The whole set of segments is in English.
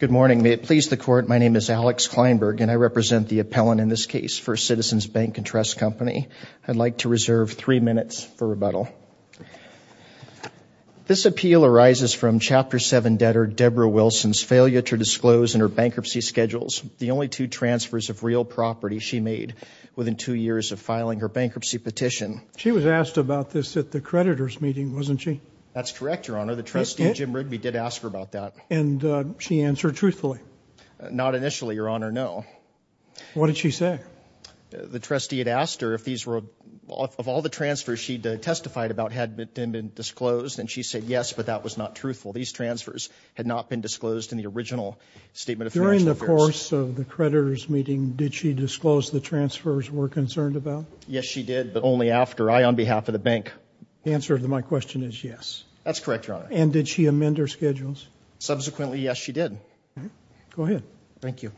Good morning. May it please the Court, my name is Alex Kleinberg and I represent the appellant in this case for Citizens Bank & Tr. Co. I'd like to reserve three minutes for rebuttal. This appeal arises from Chapter 7 debtor Debra Wilson's failure to disclose in her bankruptcy schedules the only two transfers of real property she made within two years of filing her bankruptcy She was asked about this at the creditors' meeting, wasn't she? That's correct, Your Honor. The trustee, Jim Rigby, did ask her about that. And she answered truthfully? Not initially, Your Honor, no. What did she say? The trustee had asked her if all the transfers she'd testified about had been disclosed, and she said, yes, but that was not truthful. These transfers had not been disclosed in the original Statement of Financial Affairs. During the course of the creditors' meeting, did she disclose the transfers we're concerned about? Yes, she did, but only after I, on behalf of the bank. The answer to my question is yes. That's correct, Your Honor. And did she amend her schedules? Subsequently, yes, she did. Go ahead. Thank you.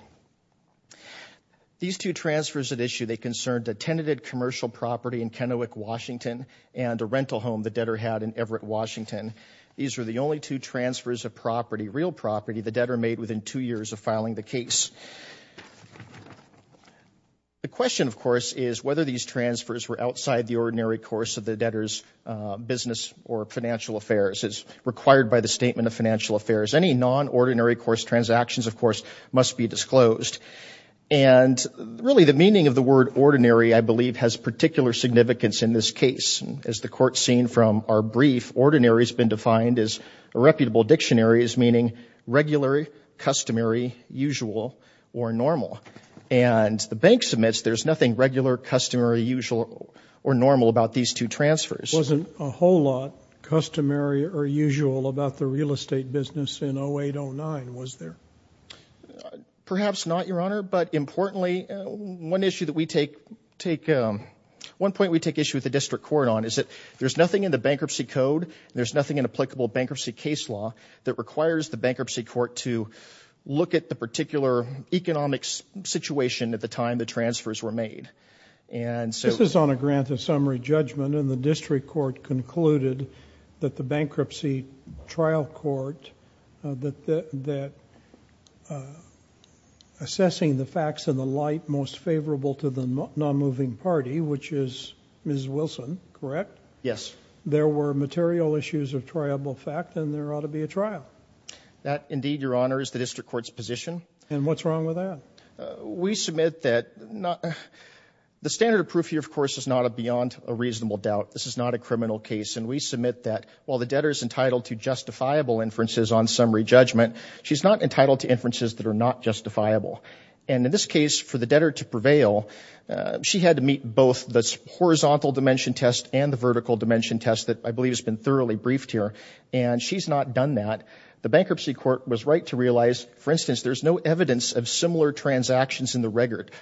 These two transfers at issue, they concerned a tenanted commercial property in Kennewick, Washington, and a rental home the debtor had in Everett, Washington. These were the only two transfers of property, real property, the debtor made within two years of filing the case. The question, of course, is whether these transfers were outside the ordinary course of the debtor's business or financial affairs as required by the Statement of Financial Affairs. Any non-ordinary course transactions, of course, must be disclosed. And really, the meaning of the word ordinary, I believe, has particular significance in this case. As the Court's seen from our brief, ordinary has been defined as irreputable dictionaries, meaning regular, customary, usual, or normal. And the bank submits, there's nothing regular, customary, usual, or normal about these two transfers. Wasn't a whole lot customary or usual about the real estate business in 08-09, was there? Perhaps not, Your Honor, but importantly, one point we take issue with the District Court on is that there's nothing in the Bankruptcy Code, there's nothing in applicable bankruptcy case law that requires the Bankruptcy Court to look at the particular economic situation at the time the transfers were made. And so— This is on a grant of summary judgment, and the District Court concluded that the Bankruptcy Trial Court, that assessing the facts in the light most favorable to the non-moving party, which is Ms. Wilson, correct? Yes. There were material issues of triable fact, and there ought to be a trial. That indeed, Your Honor, is the District Court's position. And what's wrong with that? We submit that—the standard of proof here, of course, is not beyond a reasonable doubt. This is not a criminal case, and we submit that while the debtor is entitled to justifiable inferences on summary judgment, she's not entitled to inferences that are not justifiable. And in this case, for the debtor to prevail, she had to meet both the horizontal dimension test and the vertical dimension test that I believe has been thoroughly briefed here, and she's not done that. The Bankruptcy Court was right to realize, for instance, there's no evidence of similar transactions in the record.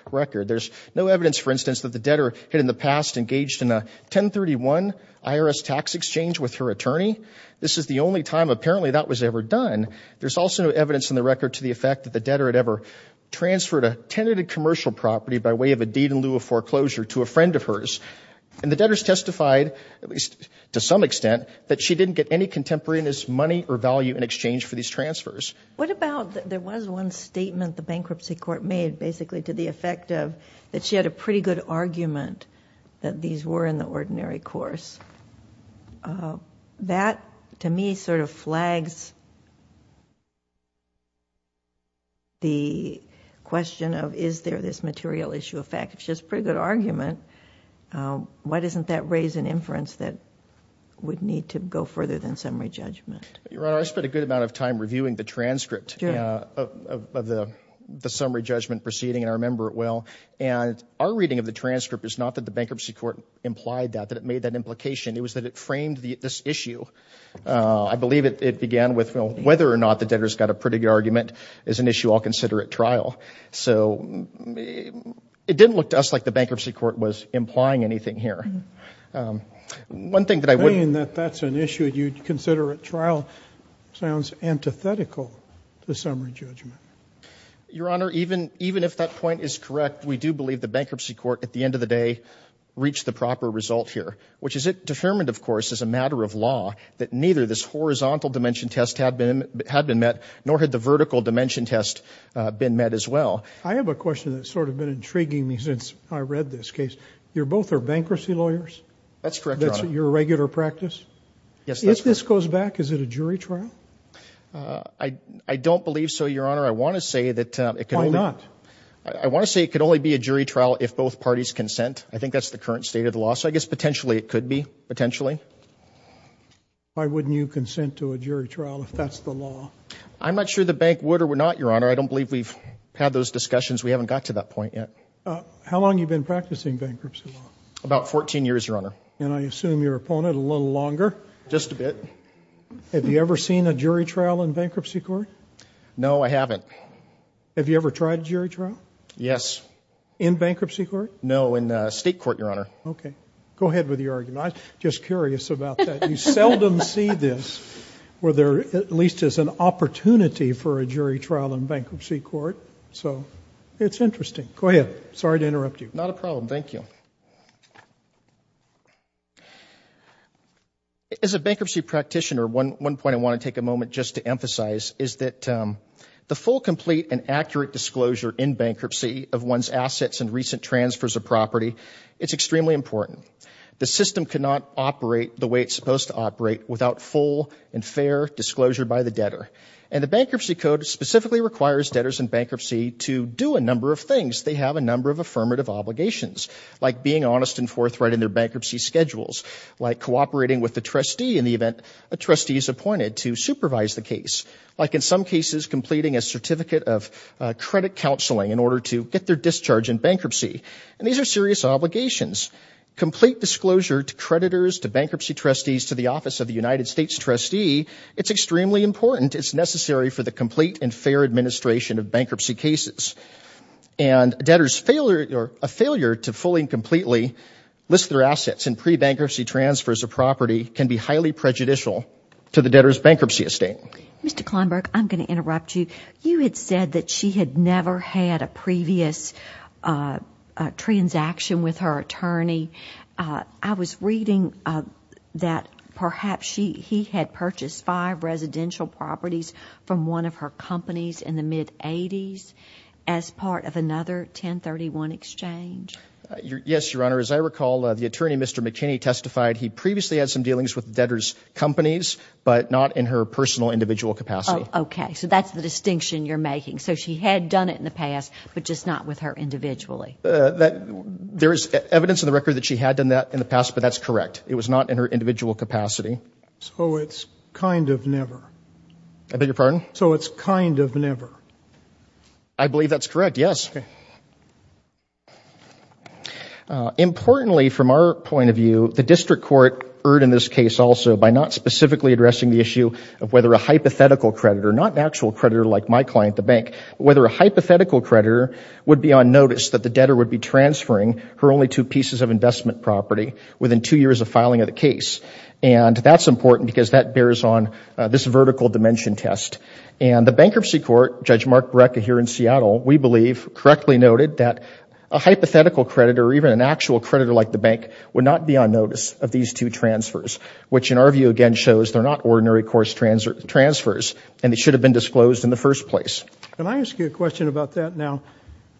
There's no evidence, for instance, that the debtor had in the past engaged in a 1031 IRS tax exchange with her attorney. This is the only time apparently that was ever done. There's also no evidence in the record to the effect that the debtor had ever transferred a tenanted commercial property by way of a deed in lieu of foreclosure to a friend of hers. And the debtors testified, at least to some extent, that she didn't get any contemporaneous money or value in exchange for these transfers. What about that there was one statement the Bankruptcy Court made basically to the effect of that she had a pretty good argument that these were in the ordinary course? That to me sort of flags the question of, is there this material issue of fact? If she has a pretty good argument, why doesn't that raise an inference that would need to go further than summary judgment? Your Honor, I spent a good amount of time reviewing the transcript of the summary judgment proceeding, and I remember it well. And our reading of the transcript is not that the Bankruptcy Court implied that, that it made that implication. It was that it framed this issue. I believe it began with whether or not the debtor's got a pretty good argument is an issue I'll consider at trial. So it didn't look to us like the Bankruptcy Court was implying anything here. One thing that I wouldn't... You're saying that that's an issue you'd consider at trial sounds antithetical to summary judgment. Your Honor, even if that point is correct, we do believe the Bankruptcy Court, at the end of the day, reached the proper result here, which is it determined, of course, as a matter of law, that neither this horizontal dimension test had been met, nor had the vertical dimension test been met as well. I have a question that's sort of been intriguing me since I read this case. You both are bankruptcy lawyers? That's correct, Your Honor. That's your regular practice? Yes, that's correct. If this goes back, is it a jury trial? I don't believe so, Your Honor. I want to say that it could only... Why not? I want to say it could only be a jury trial if both parties consent. I think that's the current state of the law, so I guess potentially it could be, potentially. Why wouldn't you consent to a jury trial if that's the law? I'm not sure the Bank would or would not, Your Honor. I don't believe we've had those discussions. We haven't got to that point yet. How long have you been practicing bankruptcy law? About 14 years, Your Honor. And I assume your opponent a little longer? Just a bit. Have you ever seen a jury trial in bankruptcy court? No, I haven't. Have you ever tried a jury trial? Yes. In bankruptcy court? No, in state court, Your Honor. Okay. Go ahead with your argument. I'm just curious about that. You seldom see this where there at least is an opportunity for a jury trial in bankruptcy court. So it's interesting. Go ahead. Sorry to interrupt you. Not a problem. Thank you. As a bankruptcy practitioner, one point I want to take a moment just to emphasize is that the full, complete, and accurate disclosure in bankruptcy of one's assets and recent transfers of property, it's extremely important. The system cannot operate the way it's supposed to operate without full and fair disclosure by the debtor. And the bankruptcy code specifically requires debtors in bankruptcy to do a number of things. They have a number of affirmative obligations, like being honest and forthright in their bankruptcy schedules, like cooperating with the trustee in the event a trustee is appointed to supervise the case, like in some cases completing a certificate of credit counseling in order to get their discharge in bankruptcy. And these are serious obligations. Complete disclosure to creditors, to bankruptcy trustees, to the office of the United States trustee, it's extremely important. It's necessary for the complete and fair administration of bankruptcy cases. And a debtor's failure to fully and completely list their assets in pre-bankruptcy transfers of property can be highly prejudicial to the debtor's bankruptcy estate. Mr. Kleinberg, I'm going to interrupt you. You had said that she had never had a previous transaction with her attorney. I was reading that perhaps he had purchased five residential properties from one of her companies in the mid-'80s as part of another 1031 exchange. Yes, Your Honor. As I recall, the attorney, Mr. McKinney, testified he previously had some dealings with the debtor's companies, but not in her personal individual capacity. Okay. So that's the distinction you're making. So she had done it in the past, but just not with her individually. There is evidence in the record that she had done that in the past, but that's correct. It was not in her individual capacity. So it's kind of never? I beg your pardon? So it's kind of never? I believe that's correct, yes. Okay. Importantly, from our point of view, the district court erred in this case also by not specifically addressing the issue of whether a hypothetical creditor, not an actual creditor like my client, the bank, but whether a hypothetical creditor would be on notice that the debtor would be transferring her only two pieces of investment property within two years of filing of the case. And that's important because that bears on this vertical dimension test. And the bankruptcy court, Judge Mark Brekka here in Seattle, we believe correctly noted that a hypothetical creditor or even an actual creditor like the bank would not be on notice of these two transfers, which in our view again shows they're not ordinary course transfers and they should have been disclosed in the first place. Can I ask you a question about that now?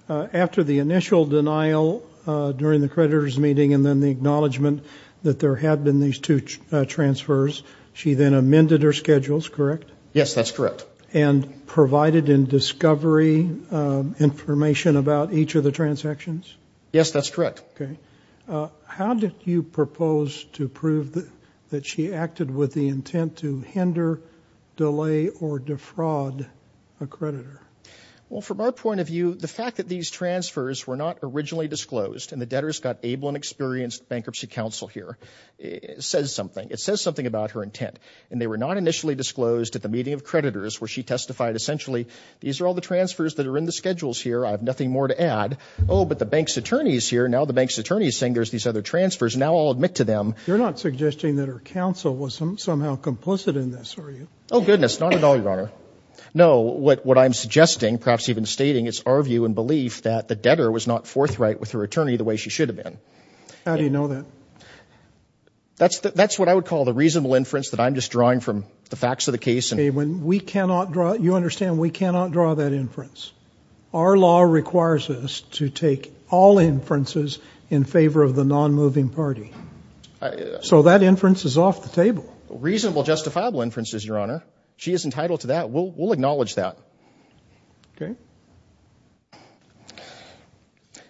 After the initial denial during the creditor's meeting and then the acknowledgement that there had been these two transfers, she then amended her schedules, correct? Yes, that's correct. And provided in discovery information about each of the transactions? Yes, that's correct. Okay. How did you propose to prove that she acted with the intent to hinder, delay, or defraud a creditor? Well, from our point of view, the fact that these transfers were not originally disclosed and the debtors got able and experienced bankruptcy counsel here, it says something. It says something about her intent and they were not initially disclosed at the meeting of creditors where she testified essentially, these are all the transfers that are in the schedules here. I have nothing more to add. Oh, but the bank's attorney is here. Now the bank's attorney is saying there's these other transfers. Now I'll admit to them. You're not suggesting that her counsel was somehow complicit in this, are you? Oh, goodness. Not at all, Your Honor. No. What I'm suggesting, perhaps even stating, is our view and belief that the debtor was not forthright with her attorney the way she should have been. How do you know that? That's what I would call the reasonable inference that I'm just drawing from the facts of the case. Okay. You understand we cannot draw that inference. Our law requires us to take all inferences in favor of the non-moving party. So that inference is off the table. Reasonable justifiable inferences, Your Honor. She is entitled to that. We'll acknowledge that. Okay.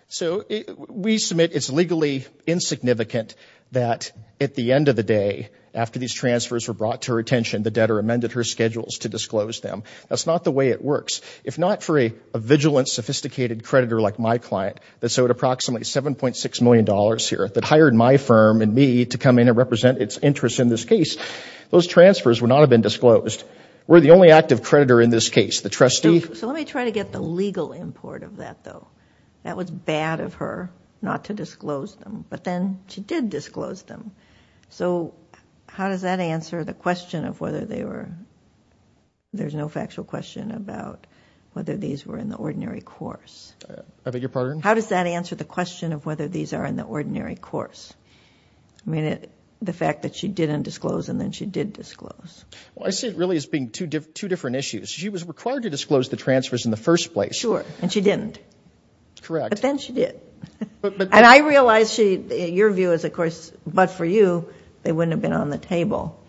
So we submit it's legally insignificant that at the end of the day, after these transfers were brought to her attention, the debtor amended her schedules to disclose them. That's not the way it works. If not for a vigilant, sophisticated creditor like my client that's owed approximately $7.6 million here, that hired my firm and me to come in and represent its interests in this case, those transfers would not have been disclosed. We're the only active creditor in this case. The trustee... So let me try to get the legal import of that, though. That was bad of her not to disclose them. But then she did disclose them. So how does that answer the question of whether they were... There's no factual question about whether these were in the ordinary course. I beg your pardon? How does that answer the question of whether these are in the ordinary course? I mean, the fact that she didn't disclose and then she did disclose. Well, I see it really as being two different issues. She was required to disclose the transfers in the first place. Sure. And she didn't. Correct. But then she did. But... And I realize she... Your view is, of course, but for you, they wouldn't have been on the table.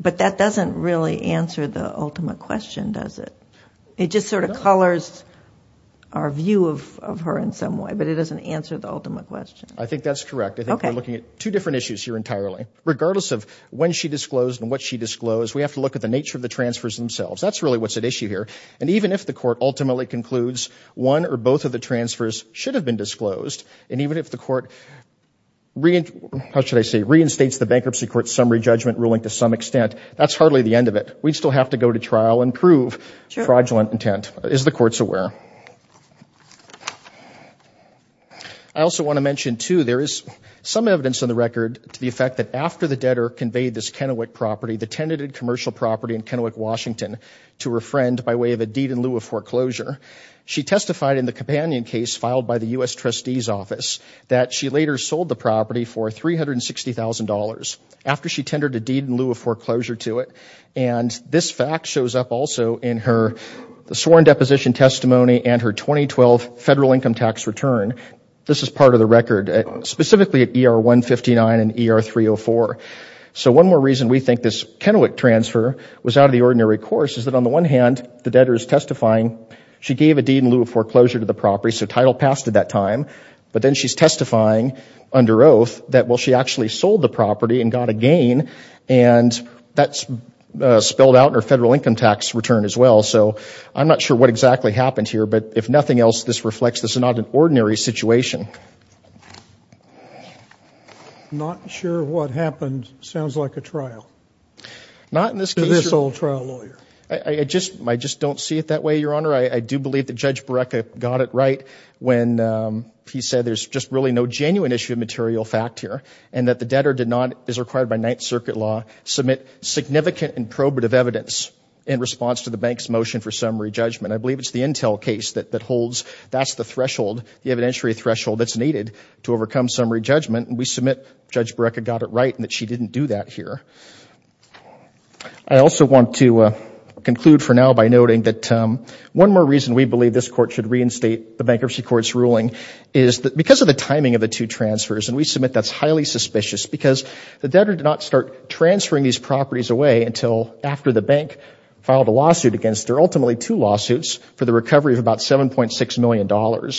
But that doesn't really answer the ultimate question, does it? It just sort of colours our view of her in some way, but it doesn't answer the ultimate question. I think that's correct. I think we're looking at two different issues here entirely. Regardless of when she disclosed and what she disclosed, we have to look at the nature of the transfers themselves. That's really what's at issue here. And even if the court ultimately concludes one or both of the transfers should have been disclosed, and even if the court... How should I say? Reinstates the bankruptcy court's summary judgment ruling to some extent, that's hardly the end of it. We still have to go to trial and prove fraudulent intent, as the court's aware. I also want to mention, too, there is some evidence on the record to the effect that after the debtor conveyed this Kennewick property, the tenanted commercial property in Kennewick, Washington, to her friend by way of a deed in lieu of foreclosure, she testified in the companion case filed by the U.S. Trustee's office that she later sold the property for $360,000 after she tendered a deed in lieu of foreclosure to it. And this fact shows up also in her sworn deposition testimony and her 2012 federal income tax return. This is part of the record, specifically at ER 159 and ER 304. So one more reason we think this Kennewick transfer was out of the ordinary course is that on the one hand, the debtor is testifying. She gave a deed in lieu of foreclosure to the property, so title passed at that time. But then she's testifying under oath that, well, she actually sold the property and got a gain, and that's spelled out in her federal income tax return as well. So I'm not sure what exactly happened here, but if nothing else, this reflects this is not an ordinary situation. I'm not sure what happened. Sounds like a trial. Not in this case. To this old trial lawyer. I just don't see it that way, Your Honor. I do believe that Judge Borreca got it right when he said there's just really no genuine issue of material fact here and that the debtor is required by Ninth Circuit law to submit significant and probative evidence in response to the bank's motion for summary judgment. I believe it's the Intel case that holds that's the threshold, the evidentiary threshold that's needed to overcome summary judgment, and we submit Judge Borreca got it right and that she didn't do that here. I also want to conclude for now by noting that one more reason we believe this Court should reinstate the Bankruptcy Court's ruling is because of the timing of the two transfers, and we submit that's highly suspicious because the debtor did not start transferring these properties away until after the bank filed a lawsuit against her, ultimately two lawsuits, for the recovery of about $7.6 million.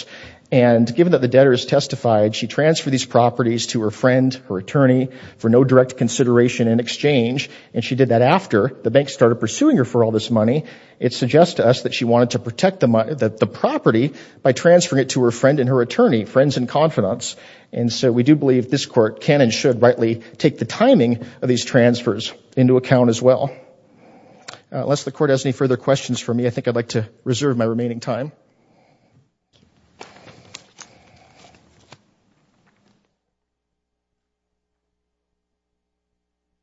And given that the debtor has testified, she transferred these properties to her friend, her attorney, for no direct consideration in exchange, and she did that after the bank started pursuing her for all this money. It suggests to us that she wanted to protect the property by transferring it to her friend and her attorney, friends in confidence. And so we do believe this Court can and should rightly take the timing of these transfers into account as well. Unless the Court has any further questions for me, I think I'd like to reserve my remaining time.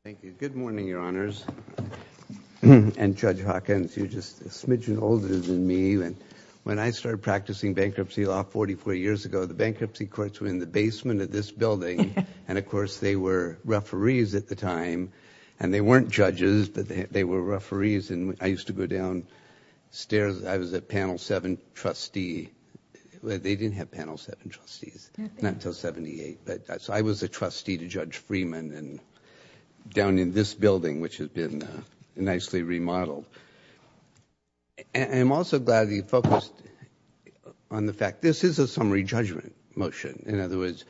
Thank you. Good morning, Your Honors. And Judge Hawkins, you're just a smidgen older than me. When I started practicing bankruptcy law 44 years ago, the bankruptcy courts were in the basement of this building, and of course they were referees at the time, and they weren't judges, but they were referees, and I used to go downstairs. I was a Panel 7 trustee. They didn't have Panel 7 trustees, not until 78. So I was a trustee to Judge Freeman, and down in this building, which has been nicely remodeled. I'm also glad you focused on the fact this is a summary judgment motion. In other words,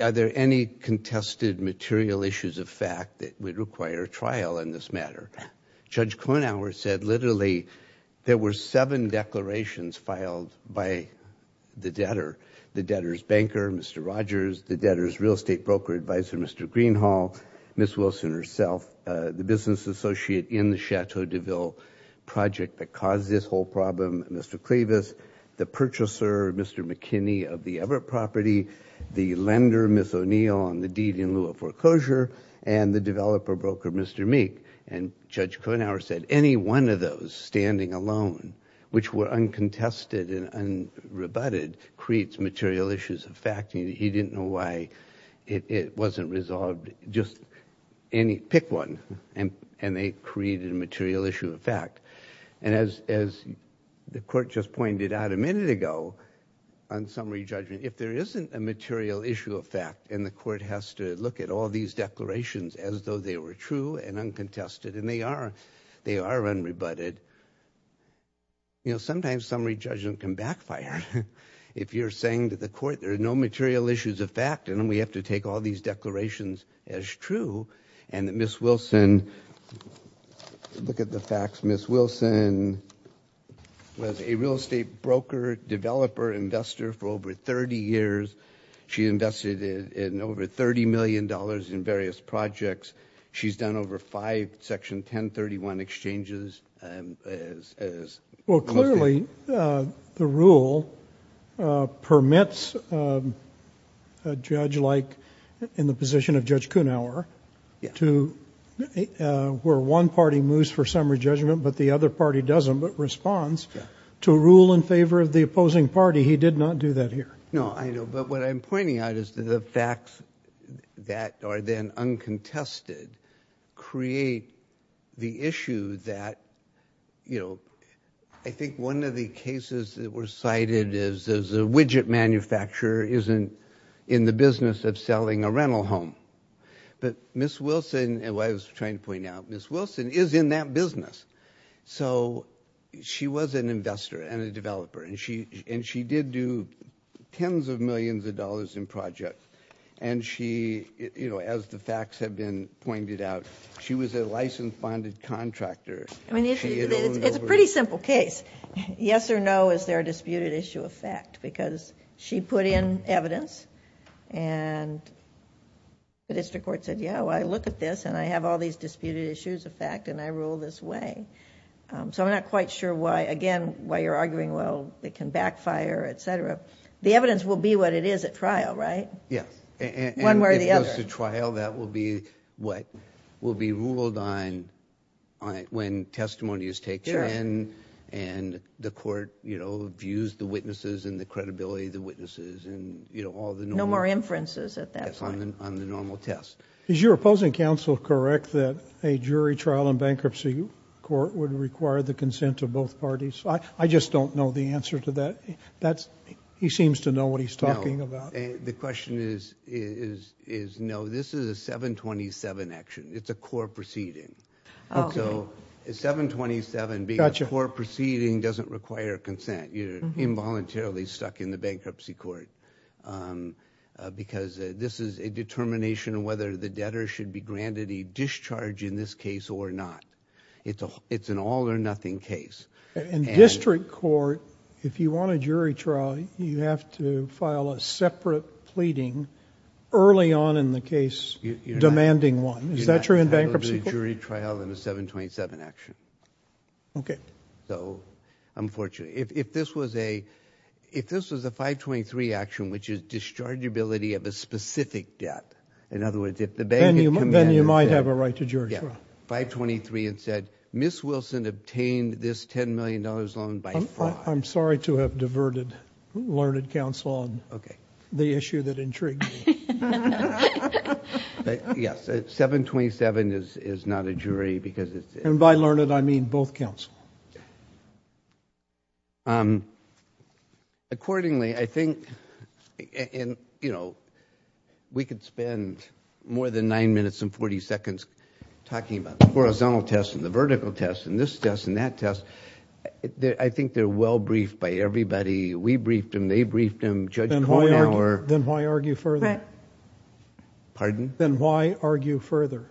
are there any contested material issues of fact that would require trial in this matter? Judge Kornhauer said literally there were seven declarations filed by the debtor, the debtor's banker, Mr. Rogers, the debtor's real estate broker advisor, Mr. Greenhall, Ms. Wilson herself, the business associate in the Chateau de Ville project that caused this whole problem, Mr. Clevis, the purchaser, Mr. McKinney of the Everett property, the lender, Ms. O'Neill, on the deed in lieu of foreclosure, and the developer broker, Mr. Meek. And Judge Kornhauer said any one of those standing alone, which were uncontested and unrebutted, creates material issues of fact. He didn't know why it wasn't resolved. Just pick one, and they created a material issue of fact. And as the court just pointed out a minute ago on summary judgment, if there isn't a material issue of fact and the court has to look at all these declarations as though they were true and uncontested and they are unrebutted, sometimes summary judgment can backfire. If you're saying to the court there are no material issues of fact and then we have to take all these declarations as true and that Ms. Wilson, look at the facts, Ms. Wilson was a real estate broker, developer, investor for over 30 years. She invested in over $30 million in various projects. She's done over five Section 1031 exchanges. Well, clearly the rule permits a judge like in the position of Judge Kornhauer where one party moves for summary judgment but the other party doesn't, but responds to rule in favor of the opposing party. He did not do that here. No, I know, but what I'm pointing out is the facts that are then uncontested create the issue that I think one of the cases that were cited is a widget manufacturer isn't in the business of selling a rental home. But Ms. Wilson, what I was trying to point out, Ms. Wilson is in that business. So she was an investor and a developer and she did do tens of millions of dollars in projects. As the facts have been pointed out, she was a licensed bonded contractor. She had owned over... It's a pretty simple case. Yes or no, is there a disputed issue of fact? Because she put in evidence and the district court said, yeah, well, I look at this and I have all these disputed issues of fact and I rule this way. So I'm not quite sure why, again, why you're arguing, well, it can backfire, etc. The evidence will be what it is at trial, right? Yes. One way or the other. If it goes to trial, that will be what? Will be ruled on when testimony is taken and the court views the witnesses and the credibility of the witnesses and all the normal... No more inferences at that point. Yes, on the normal test. Is your opposing counsel correct that a jury trial in bankruptcy court would require the consent of both parties? I just don't know the answer to that. He seems to know what he's talking about. The question is, no, this is a 727 action. It's a core proceeding. So a 727 being a core proceeding doesn't require consent. You're involuntarily stuck in the bankruptcy court because this is a determination of whether the debtor should be granted a discharge in this case or not. It's an all or nothing case. In district court, if you want a jury trial, you have to file a separate pleading early on in the case demanding one. Is that true in bankruptcy court? You're not entitled to a jury trial in a 727 action. Okay. So, unfortunately, if this was a 523 action, which is dischargeability of a specific debt, in other words, if the bank had commanded... Then you might have a right to jury trial. Yeah, 523 and said, Ms. Wilson obtained this $10 million loan by fraud. I'm sorry to have diverted learned counsel on the issue that intrigued me. Yes. 727 is not a jury because it's... And by learned, I mean both counsel. Accordingly, I think, you know, we could spend more than nine minutes and 40 seconds talking about the horizontal test and the vertical test and this test and that test. I think they're well briefed by everybody. We briefed them. They briefed them. Judge Kornhauer... Then why argue further? Pardon? Then why argue further?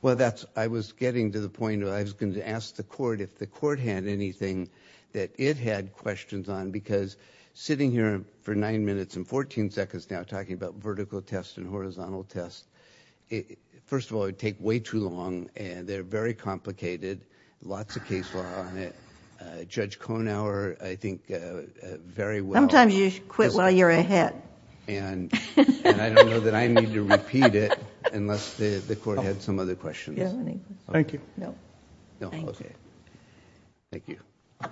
Well, that's... I was getting to the point where I was going to ask the court if the court had anything that it had questions on because sitting here for nine minutes and 14 seconds now talking about vertical test and horizontal test, first of all, it would take way too long, and they're very complicated, lots of case law on it. Judge Kornhauer, I think, very well... Sometimes you quit while you're ahead. And I don't know that I need to repeat it unless the court had some other questions. Thank you. No. No? Okay. Thank you. I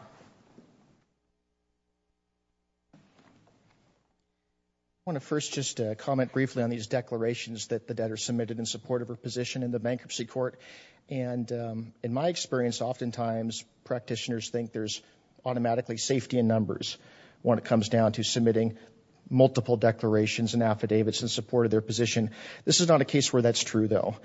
want to first just comment briefly on these declarations that the debtor submitted in support of her position in the bankruptcy court. And in my experience, oftentimes practitioners think there's automatically safety in numbers when it comes down to submitting multiple declarations and affidavits in support of their position. This is not a case where that's true, though.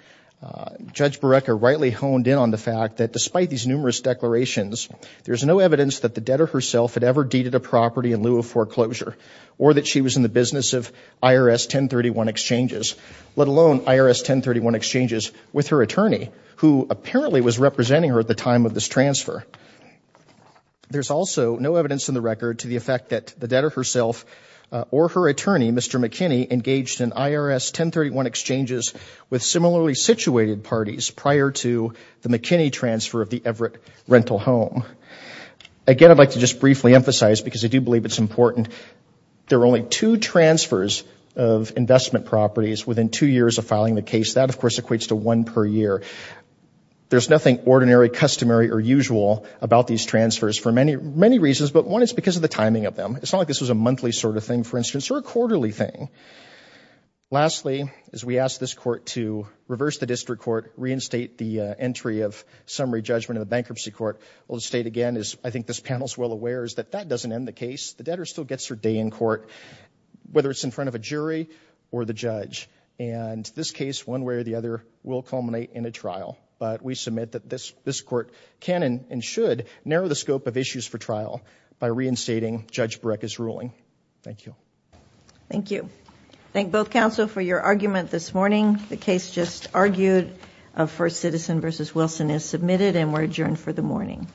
Judge Barreca rightly honed in on the fact that despite these numerous declarations, there's no evidence that the debtor herself had ever deeded a property in lieu of foreclosure or that she was in the business of IRS 1031 exchanges, let alone IRS 1031 exchanges with her attorney, who apparently was representing her at the time of this transfer. There's also no evidence in the record to the effect that the debtor herself or her attorney, Mr. McKinney, engaged in IRS 1031 exchanges with similarly situated parties prior to the McKinney transfer of the Everett rental home. Again, I'd like to just briefly emphasize, because I do believe it's important, there were only two transfers of investment properties within two years of filing the case. That, of course, equates to one per year. There's nothing ordinary, customary, or usual about these transfers for many reasons, but one is because of the timing of them. It's not like this was a monthly sort of thing, for instance, or a quarterly thing. Lastly, as we ask this court to reverse the district court, reinstate the entry of summary judgment in the bankruptcy court, we'll state again, as I think this panel is well aware, is that that doesn't end the case. The debtor still gets her day in court, whether it's in front of a jury or the judge, and this case, one way or the other, will culminate in a trial, but we submit that this court can and should narrow the scope of issues for trial by reinstating Judge Burek's ruling. Thank you. Thank you. Thank both counsel for your argument this morning. The case just argued of First Citizen v. Wilson is submitted and we're adjourned for the morning.